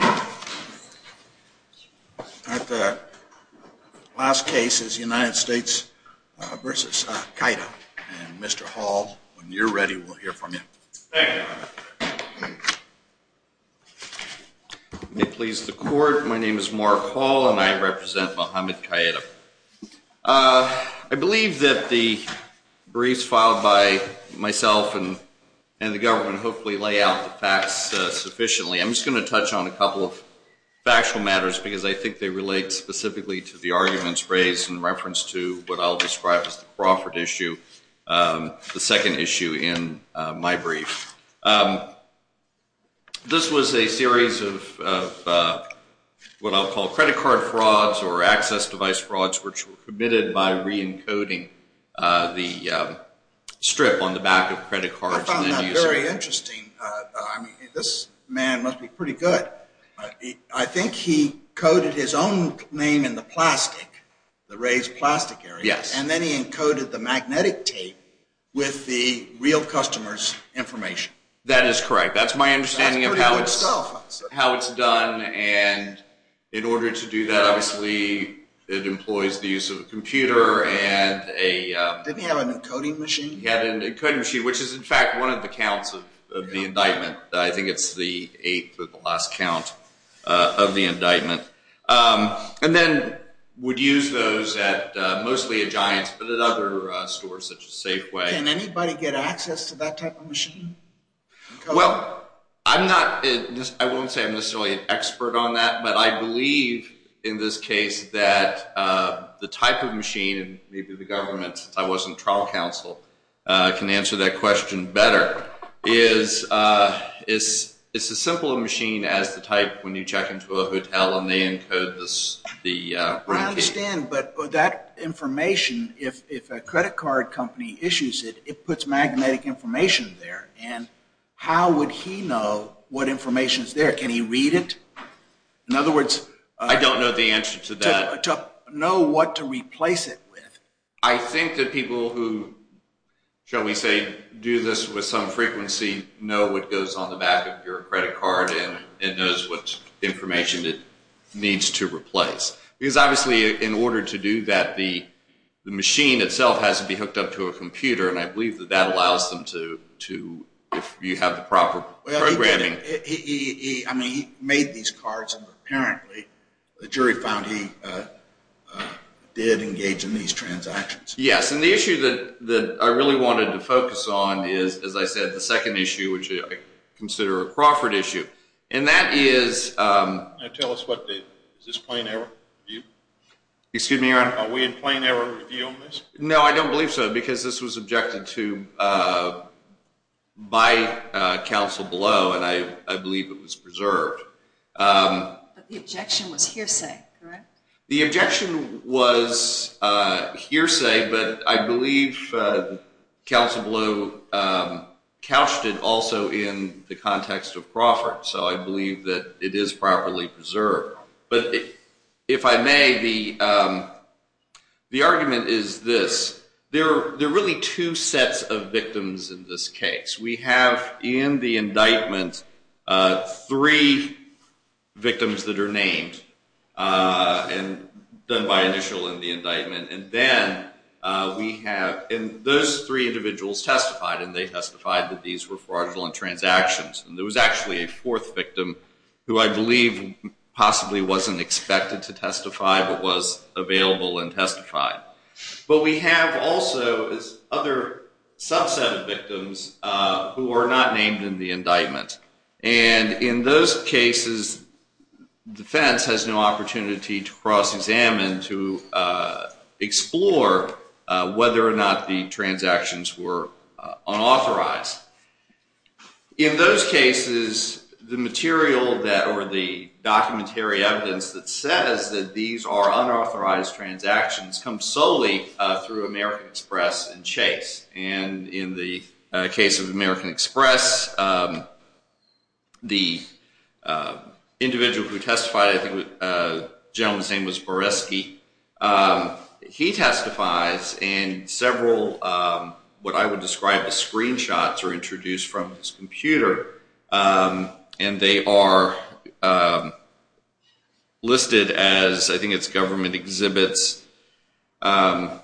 At the last case is United States v. Keita. Mr. Hall, when you're ready, we'll hear from you. Thank you. It pleases the court, my name is Mark Hall and I represent Mohammed Keita. I believe that the briefs filed by myself and the government hopefully lay out the facts sufficiently. I'm just going to touch on a couple of factual matters because I think they relate specifically to the arguments raised in reference to what I'll describe as the Crawford issue, the second issue in my brief. This was a series of what I'll call credit card frauds or access device frauds which were committed by re-encoding the strip on the back of credit cards. I found that very interesting. This man must be pretty good. I think he coded his own name in the plastic, the raised plastic area, and then he encoded the magnetic tape with the real customer's information. That is correct. That's my understanding of how it's done and in order to do that, obviously, it employs the use of a computer and a... Didn't he have an encoding machine? He had an encoding machine which is in fact one of the counts of the indictment. I think it's the eighth or the last count of the indictment. And then would use those at mostly at Giants but at other stores such as Safeway. Can anybody get access to that type of machine? Well, I'm not... I won't say I'm necessarily an expert on that, but I believe in this case that the type of machine and maybe the government, since I wasn't trial counsel, can answer that question better. It's as simple a machine as the type when you check into a hotel and they encode the... I understand, but that information, if a credit card company issues it, it puts magnetic information there and how would he know what information is there? Can he read it? In other words... I don't know the answer to that. To know what to replace it with. I think that people who, shall we say, do this with some frequency, know what goes on the back of your credit card and knows what information it needs to replace. Because obviously in order to do that, the machine itself has to be hooked up to a computer and I believe that that allows them to, if you have the proper programming... Yes, and the issue that I really wanted to focus on is, as I said, the second issue, which I consider a Crawford issue. And that is... Now tell us what the... Is this plain error review? Excuse me, Your Honor? Are we in plain error review on this? No, I don't believe so, because this was objected to by counsel below and I believe it was preserved. But the objection was hearsay, correct? The objection was hearsay, but I believe counsel below couched it also in the context of Crawford. So I believe that it is properly preserved. But if I may, the argument is this. There are really two sets of victims in this case. We have in the indictment three victims that are named and done by initial in the indictment. And then we have... And those three individuals testified and they testified that these were fraudulent transactions. And there was actually a fourth victim who I believe possibly wasn't expected to testify but was available and testified. But we have also other subset of victims who were not named in the indictment. And in those cases, defense has no opportunity to cross-examine, to explore whether or not the transactions were unauthorized. In those cases, the material or the documentary evidence that says that these are unauthorized transactions comes solely through American Express and Chase. And in the case of American Express, the individual who testified, I think the gentleman's name was Boresky, he testifies and several what I would describe as screenshots are introduced from his computer. And they are listed as, I think it's government exhibits 1H,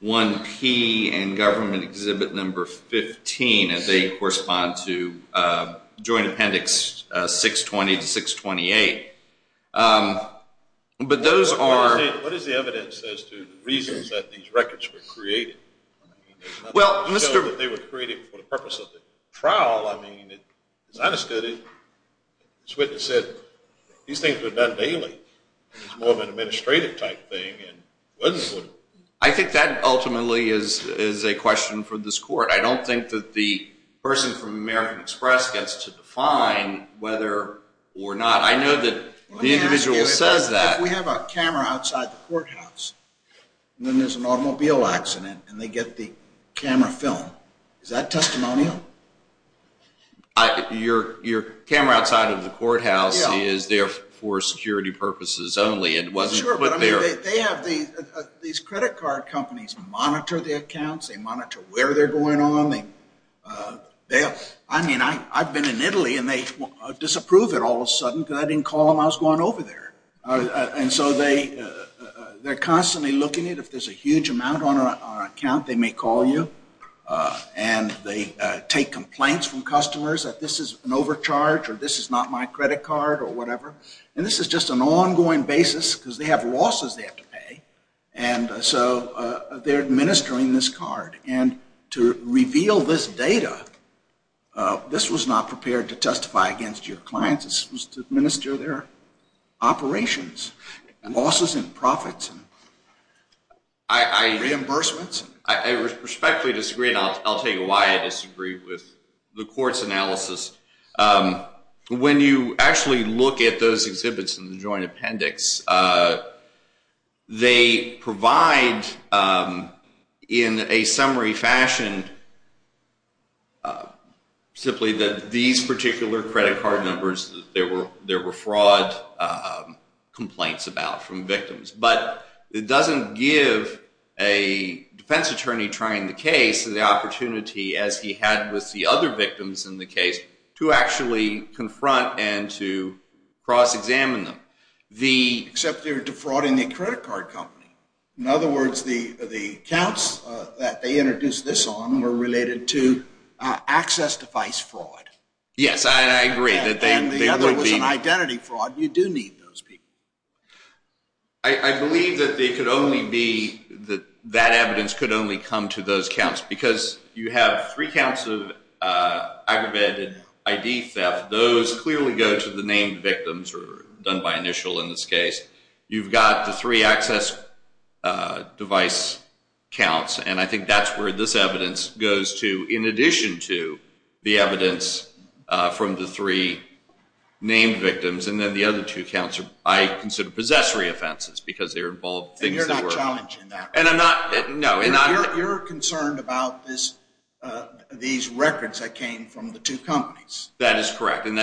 1P, and government exhibit number 15. And they correspond to Joint Appendix 620 to 628. But those are... What is the evidence as to the reasons that these records were created? Well, Mr. They were created for the purpose of the trial. I mean, as I understood it, this witness said these things were done daily. It's more of an administrative type thing. I think that ultimately is a question for this court. I don't think that the person from American Express gets to define whether or not. I know that the individual says that. If we have a camera outside the courthouse and then there's an automobile accident and they get the camera film, is that testimonial? Your camera outside of the courthouse is there for security purposes only. It wasn't put there. These credit card companies monitor the accounts. They monitor where they're going on. I mean, I've been in Italy and they disapprove it all of a sudden because I didn't call them. I was going over there. And so they're constantly looking at if there's a huge amount on an account, they may call you. And they take complaints from customers that this is an overcharge or this is not my credit card or whatever. And this is just an ongoing basis because they have losses they have to pay. And so they're administering this card. And to reveal this data, this was not prepared to testify against your clients. This was to administer their operations, losses and profits and reimbursements. I respectfully disagree, and I'll tell you why I disagree with the court's analysis. When you actually look at those exhibits in the joint appendix, they provide, in a summary fashion, simply that these particular credit card numbers, there were fraud complaints about from victims. But it doesn't give a defense attorney trying the case the opportunity, as he had with the other victims in the case, to actually confront and to cross-examine them. Except they were defrauding the credit card company. In other words, the accounts that they introduced this on were related to access device fraud. Yes, I agree. And the other was an identity fraud. You do need those people. I believe that that evidence could only come to those counts. Because you have three counts of aggravated ID theft. Those clearly go to the named victims, or done by initial in this case. You've got the three access device counts. And I think that's where this evidence goes to, in addition to the evidence from the three named victims. And then the other two counts I consider possessory offenses, because they're involved. And you're not challenging that. No. You're concerned about these records that came from the two companies. That is correct. And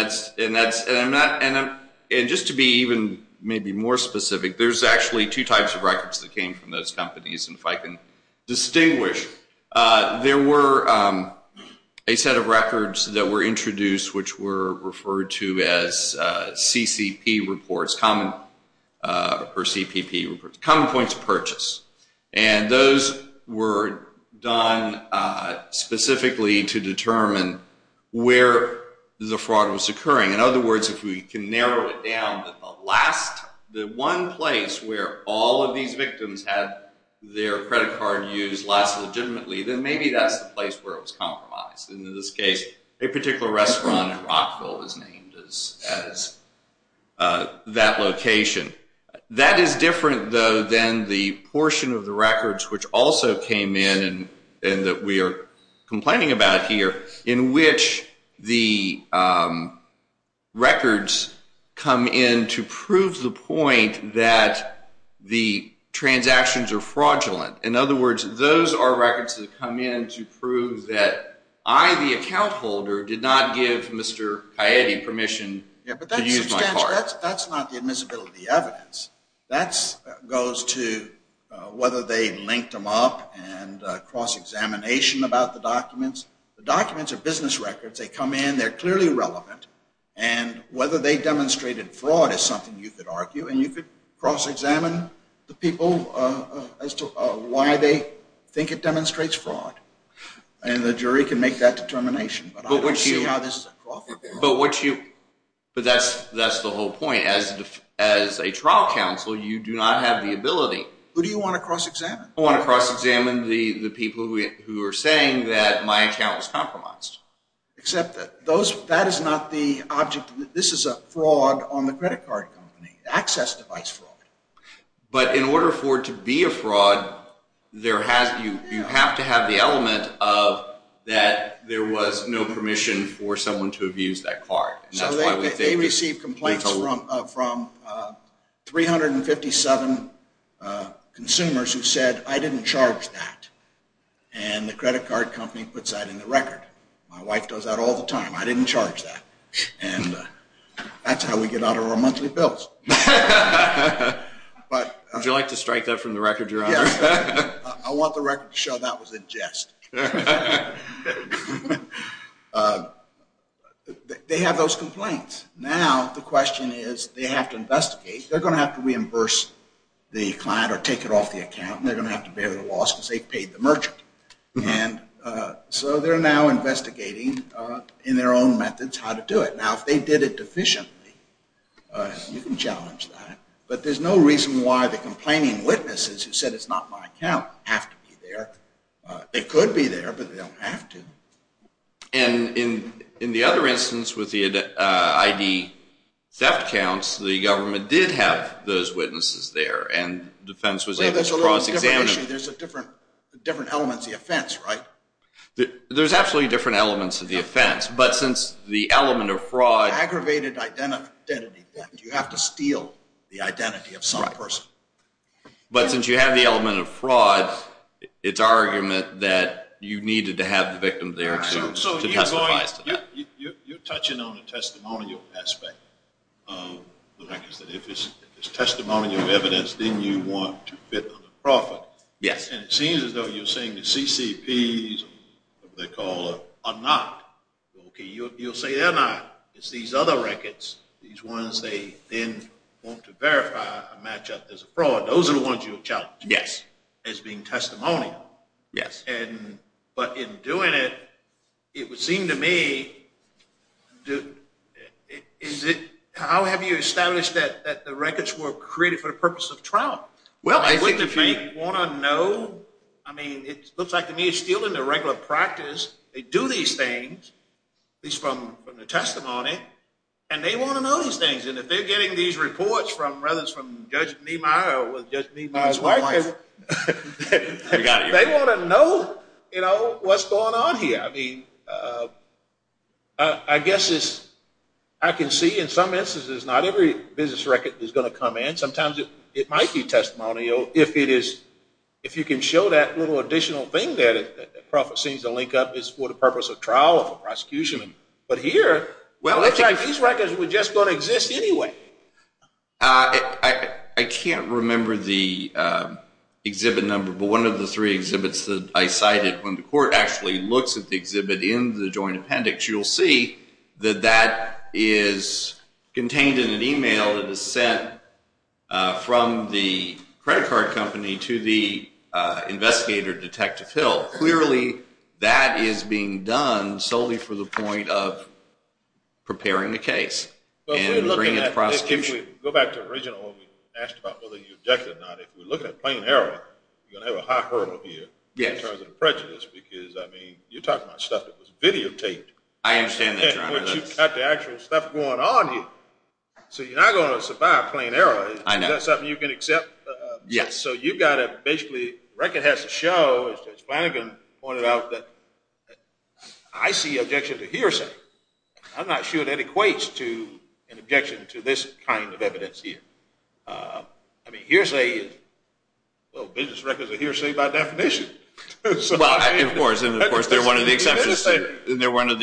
just to be even maybe more specific, there's actually two types of records that came from those companies. And if I can distinguish, there were a set of records that were introduced, which were referred to as CCP reports, or CPP reports, Common Points of Purchase. And those were done specifically to determine where the fraud was occurring. In other words, if we can narrow it down to the one place where all of these victims had their credit card used less legitimately, then maybe that's the place where it was compromised. In this case, a particular restaurant in Rockville was named as that location. That is different, though, than the portion of the records which also came in, and that we are complaining about here, in which the records come in to prove the point that the transactions are fraudulent. In other words, those are records that come in to prove that I, the account holder, did not give Mr. Coyette permission to use my card. Yeah, but that's not the admissibility evidence. That goes to whether they linked them up and cross-examination about the documents. The documents are business records. They come in. They're clearly relevant. And whether they demonstrated fraud is something you could argue, and you could cross-examine the people as to why they think it demonstrates fraud. And the jury can make that determination. But I don't see how this is a profit. But that's the whole point. As a trial counsel, you do not have the ability. Who do you want to cross-examine? I want to cross-examine the people who are saying that my account was compromised. Except that that is not the object. This is a fraud on the credit card company, access device fraud. But in order for it to be a fraud, you have to have the element of that there was no permission for someone to have used that card. So they received complaints from 357 consumers who said, I didn't charge that. And the credit card company puts that in the record. My wife does that all the time. I didn't charge that. And that's how we get out of our monthly bills. Would you like to strike that from the record, Your Honor? Yes. I want the record to show that was a jest. They have those complaints. Now the question is, they have to investigate. They're going to have to reimburse the client or take it off the account. And they're going to have to bear the loss because they paid the merchant. So they're now investigating in their own methods how to do it. Now if they did it deficiently, you can challenge that. But there's no reason why the complaining witnesses who said it's not my account have to be there. They could be there, but they don't have to. And in the other instance with the ID theft counts, the government did have those witnesses there. And defense was able to cross-examine them. There's a different element to the offense, right? There's absolutely different elements to the offense. But since the element of fraud— Aggravated identity theft. You have to steal the identity of some person. But since you have the element of fraud, it's our argument that you needed to have the victim there to testify to that. You're touching on a testimonial aspect. If it's testimonial evidence, then you want to fit under profit. And it seems as though you're saying the CCPs, whatever they're called, are not. Okay, you'll say they're not. It's these other records, these ones they then want to verify a match-up as a fraud. Those are the ones you'll challenge as being testimonial. Yes. But in doing it, it would seem to me, how have you established that the records were created for the purpose of trial? Well, I think— Wouldn't they want to know? I mean, it looks like to me it's still in the regular practice. They do these things, at least from the testimony, and they want to know these things. And if they're getting these reports from—whether it's from Judge Niemeyer or Judge Niemeyer's wife— They want to know what's going on here. I mean, I guess it's—I can see in some instances not every business record is going to come in. Sometimes it might be testimonial if you can show that little additional thing there that profit seems to link up. It's for the purpose of trial or prosecution. But here, these records were just going to exist anyway. I can't remember the exhibit number, but one of the three exhibits that I cited, when the court actually looks at the exhibit in the joint appendix, you'll see that that is contained in an email that is sent from the credit card company to the investigator, Detective Hill. Clearly, that is being done solely for the point of preparing the case. If we go back to the original, when we asked about whether you objected or not, if we're looking at plain error, you're going to have a high hurdle here in terms of prejudice, because, I mean, you're talking about stuff that was videotaped. I understand that, Your Honor. But you've got the actual stuff going on here. So you're not going to survive plain error. I know. Is that something you can accept? Yes. So you've got to basically—the record has to show, as Judge Flanagan pointed out, that I see objection to hearsay. I'm not sure that equates to an objection to this kind of evidence here. I mean, hearsay is—well, business records are hearsay by definition. Well, of course, and of course, they're one of the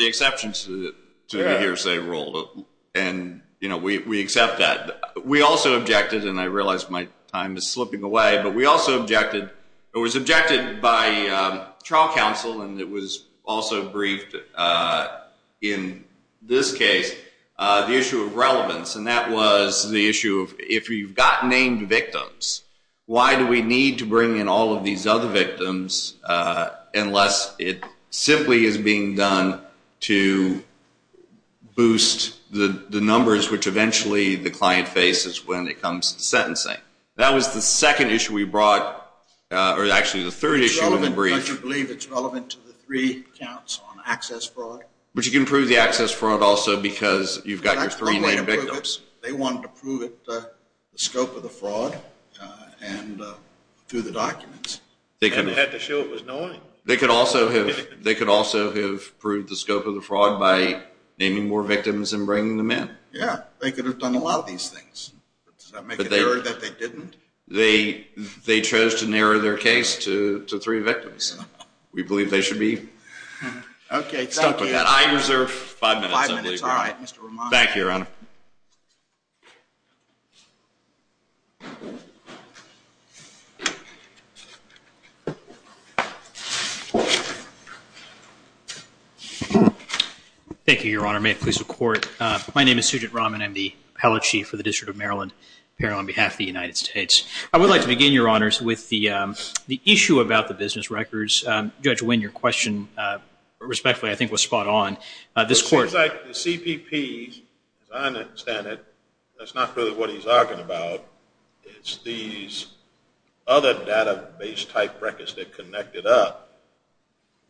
exceptions to the hearsay rule. And, you know, we accept that. We also objected, and I realize my time is slipping away, but we also objected— and it was also briefed in this case—the issue of relevance, and that was the issue of if you've got named victims, why do we need to bring in all of these other victims unless it simply is being done to boost the numbers, which eventually the client faces when it comes to sentencing? That was the second issue we brought—or, actually, the third issue of the brief. Do you believe it's relevant to the three counts on access fraud? But you can prove the access fraud also because you've got your three named victims. They wanted to prove it, the scope of the fraud, and through the documents. And they had to show it was knowing. They could also have proved the scope of the fraud by naming more victims and bringing them in. Yeah, they could have done a lot of these things. Does that make it clear that they didn't? They chose to narrow their case to three victims. We believe they should be stuck with that. Okay, thank you. I reserve five minutes. Five minutes. All right, Mr. Romano. Thank you, Your Honor. Thank you, Your Honor. May it please the Court. My name is Sujit Raman. I'm the appellate chief for the District of Maryland here on behalf of the United States. I would like to begin, Your Honors, with the issue about the business records. Judge Winn, your question, respectfully, I think was spot on. This Court— It seems like the CPP, as I understand it, that's not really what he's arguing about. It's these other database-type records that connect it up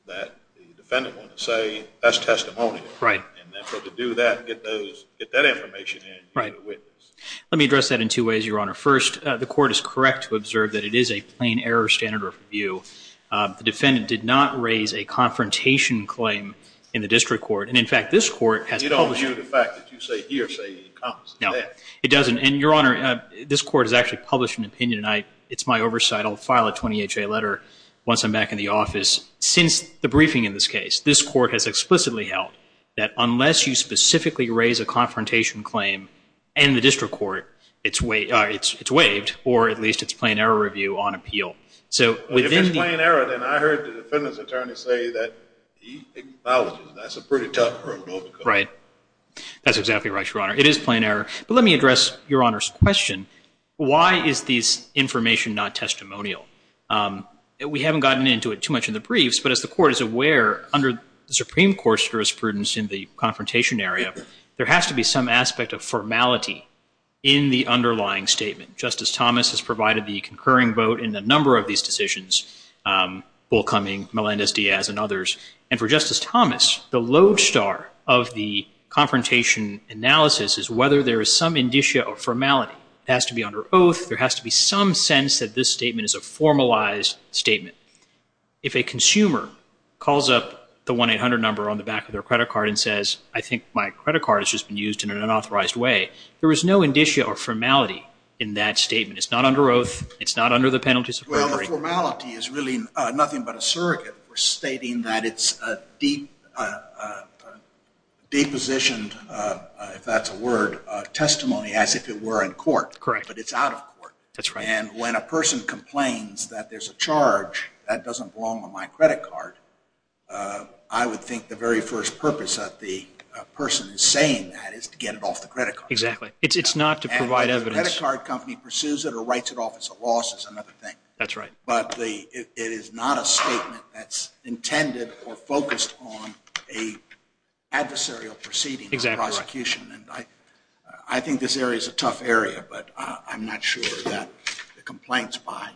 that the defendant wants to say, that's testimonial. Right. And so to do that, get that information in, you're the witness. Right. Let me address that in two ways, Your Honor. First, the Court is correct to observe that it is a plain error standard of review. The defendant did not raise a confrontation claim in the District Court. And, in fact, this Court has published— You don't view the fact that you say here, say you encompass that. No, it doesn't. And, Your Honor, this Court has actually published an opinion. I'll file a 20HA letter once I'm back in the office. Since the briefing in this case, this Court has explicitly held that unless you specifically raise a confrontation claim in the District Court, it's waived, or at least it's plain error review on appeal. So within the— If it's plain error, then I heard the defendant's attorney say that he acknowledges that's a pretty tough hurdle to overcome. Right. That's exactly right, Your Honor. It is plain error. But let me address Your Honor's question. Why is this information not testimonial? We haven't gotten into it too much in the briefs, but as the Court is aware, under the Supreme Court's jurisprudence in the confrontation area, there has to be some aspect of formality in the underlying statement. Justice Thomas has provided the concurring vote in a number of these decisions, Bullcumming, Melendez-Diaz, and others. And for Justice Thomas, the lodestar of the confrontation analysis is whether there is some indicia of formality. It has to be under oath. There has to be some sense that this statement is a formalized statement. If a consumer calls up the 1-800 number on the back of their credit card and says, I think my credit card has just been used in an unauthorized way, there is no indicia or formality in that statement. It's not under oath. It's not under the penalties of perjury. Well, the formality is really nothing but a surrogate. We're stating that it's a deposition, if that's a word, testimony as if it were in court. Correct. But it's out of court. That's right. And when a person complains that there's a charge that doesn't belong on my credit card, I would think the very first purpose that the person is saying that is to get it off the credit card. Exactly. It's not to provide evidence. And if the credit card company pursues it or writes it off as a loss is another thing. That's right. But it is not a statement that's intended or focused on an adversarial proceeding or prosecution. Exactly right. I think this area is a tough area, but I'm not sure that the complaints by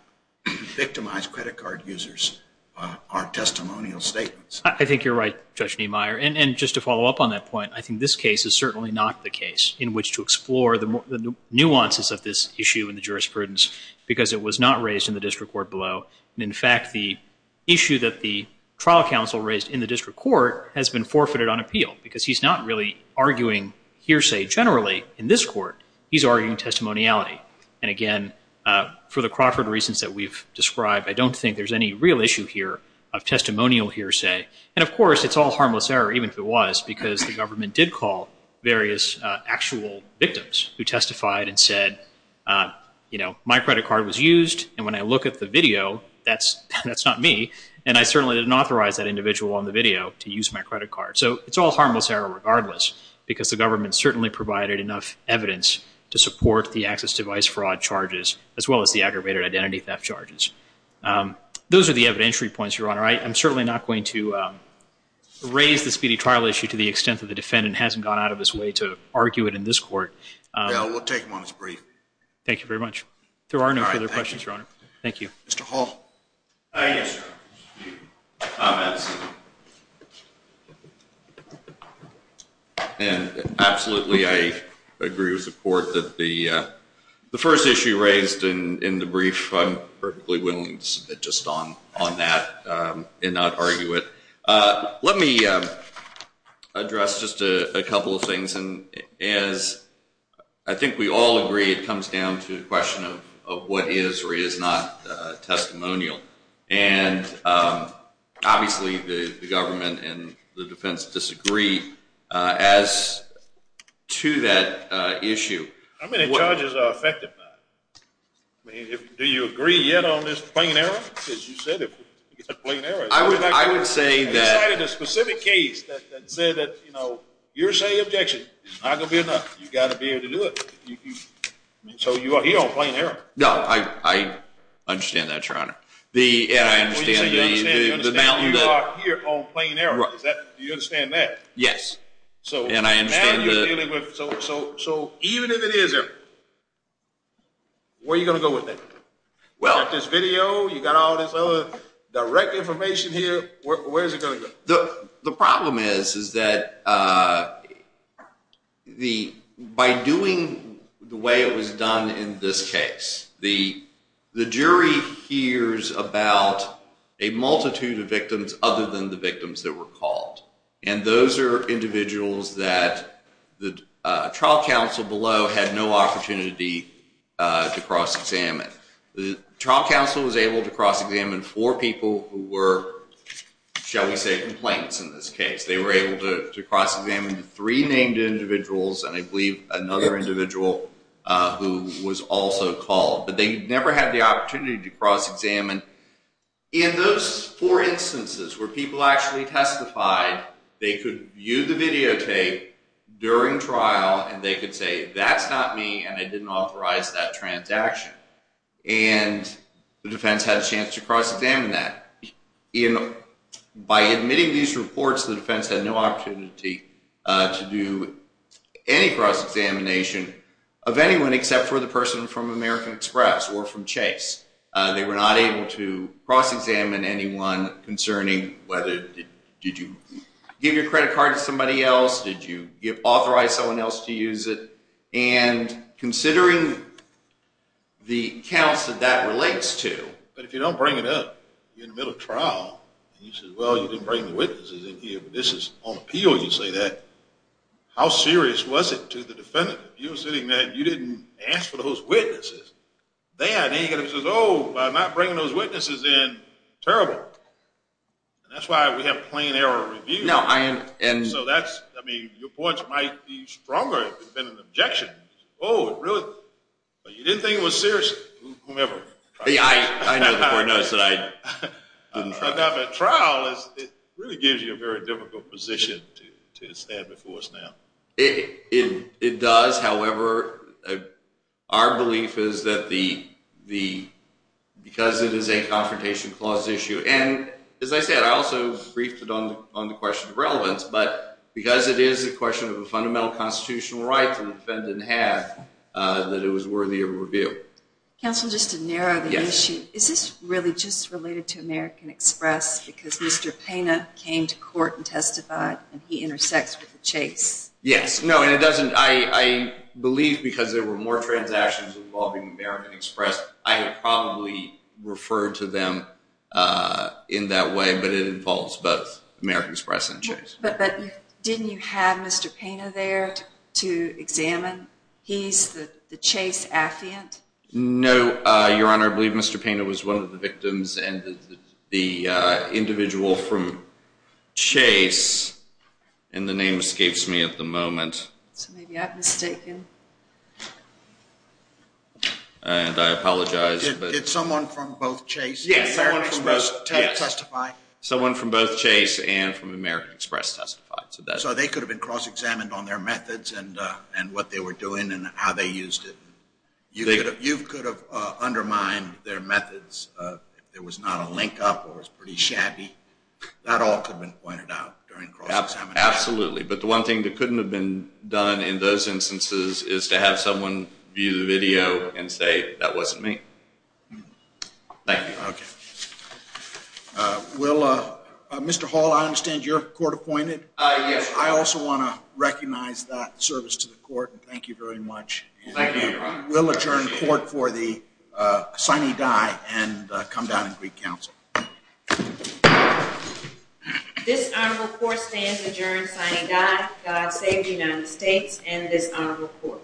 victimized credit card users are testimonial statements. I think you're right, Judge Niemeyer. And just to follow up on that point, I think this case is certainly not the case in which to explore the nuances of this issue in the jurisprudence, because it was not raised in the district court below. In fact, the issue that the trial counsel raised in the district court has been forfeited on appeal, because he's not really arguing hearsay generally in this court. He's arguing testimoniality. And, again, for the Crawford reasons that we've described, I don't think there's any real issue here of testimonial hearsay. And, of course, it's all harmless error, even if it was, because the government did call various actual victims who testified and said, you know, my credit card was used, and when I look at the video, that's not me, and I certainly didn't authorize that individual on the video to use my credit card. So it's all harmless error regardless, because the government certainly provided enough evidence to support the access device fraud charges as well as the aggravated identity theft charges. Those are the evidentiary points, Your Honor. I'm certainly not going to raise the speedy trial issue to the extent that the defendant hasn't gone out of his way to argue it in this court. Well, we'll take them on as brief. Thank you very much. There are no further questions, Your Honor. Thank you. Mr. Hall. Yes, Your Honor. Comments? Absolutely, I agree with the court that the first issue raised in the brief, I'm perfectly willing to submit just on that and not argue it. Let me address just a couple of things, and as I think we all agree it comes down to the question of what is or is not testimonial. And obviously the government and the defense disagree as to that issue. How many charges are affected by it? Do you agree yet on this plain error? Because you said it was a plain error. I would say that. You cited a specific case that said that you're saying the objection is not going to be enough. You've got to be able to do it. So you are here on plain error. No, I understand that, Your Honor. And I understand the mountain that. You said you are here on plain error. Do you understand that? Yes. So now you're dealing with. So even if it is error, where are you going to go with it? You've got this video. You've got all this other direct information here. Where is it going to go? The problem is that by doing the way it was done in this case, the jury hears about a multitude of victims other than the victims that were called. And those are individuals that the trial counsel below had no opportunity to cross-examine. The trial counsel was able to cross-examine four people who were, shall we say, complaints in this case. They were able to cross-examine three named individuals, and I believe another individual who was also called. But they never had the opportunity to cross-examine. In those four instances where people actually testified, they could view the videotape during trial and they could say, that's not me and I didn't authorize that transaction. And the defense had a chance to cross-examine that. By admitting these reports, the defense had no opportunity to do any cross-examination of anyone except for the person from American Express or from Chase. They were not able to cross-examine anyone concerning whether did you give your credit card to somebody else? Did you authorize someone else to use it? And considering the accounts that that relates to. But if you don't bring it up, you're in the middle of trial, and you say, well, you didn't bring the witnesses in here, but this is on appeal, you say that. How serious was it to the defendant if you were sitting there and you didn't ask for those witnesses? Then he says, oh, by not bringing those witnesses in, terrible. And that's why we have plain error reviews. So your points might be stronger than an objection. Oh, really? But you didn't think it was serious? I know the court knows that I didn't try. But trial really gives you a very difficult position to stand before us now. It does. However, our belief is that because it is a confrontation clause issue, and as I said, I also briefed it on the question of relevance, but because it is a question of a fundamental constitutional right that the Counsel, just to narrow the issue, is this really just related to American Express because Mr. Pena came to court and testified, and he intersects with the Chase? Yes. No, and it doesn't. I believe because there were more transactions involving American Express, I had probably referred to them in that way, but it involves both American Express and Chase. But didn't you have Mr. Pena there to examine? He's the Chase affiant? No, Your Honor. I believe Mr. Pena was one of the victims, and the individual from Chase, and the name escapes me at the moment. So maybe I've mistaken. And I apologize. Did someone from both Chase and American Express testify? Someone from both Chase and from American Express testified. So they could have been cross-examined on their methods and what they were doing and how they used it. You could have undermined their methods if there was not a link-up or it was pretty shabby. That all could have been pointed out during cross-examination. Absolutely. But the one thing that couldn't have been done in those instances is to have someone view the video and say, that wasn't me. Thank you, Your Honor. Okay. Mr. Hall, I understand you're court-appointed? Yes. I also want to recognize that service to the court, and thank you very much. Thank you, Your Honor. And we'll adjourn court for the signing die and come down and greet counsel. This honorable court stands adjourned, signing die. God save the United States and this honorable court.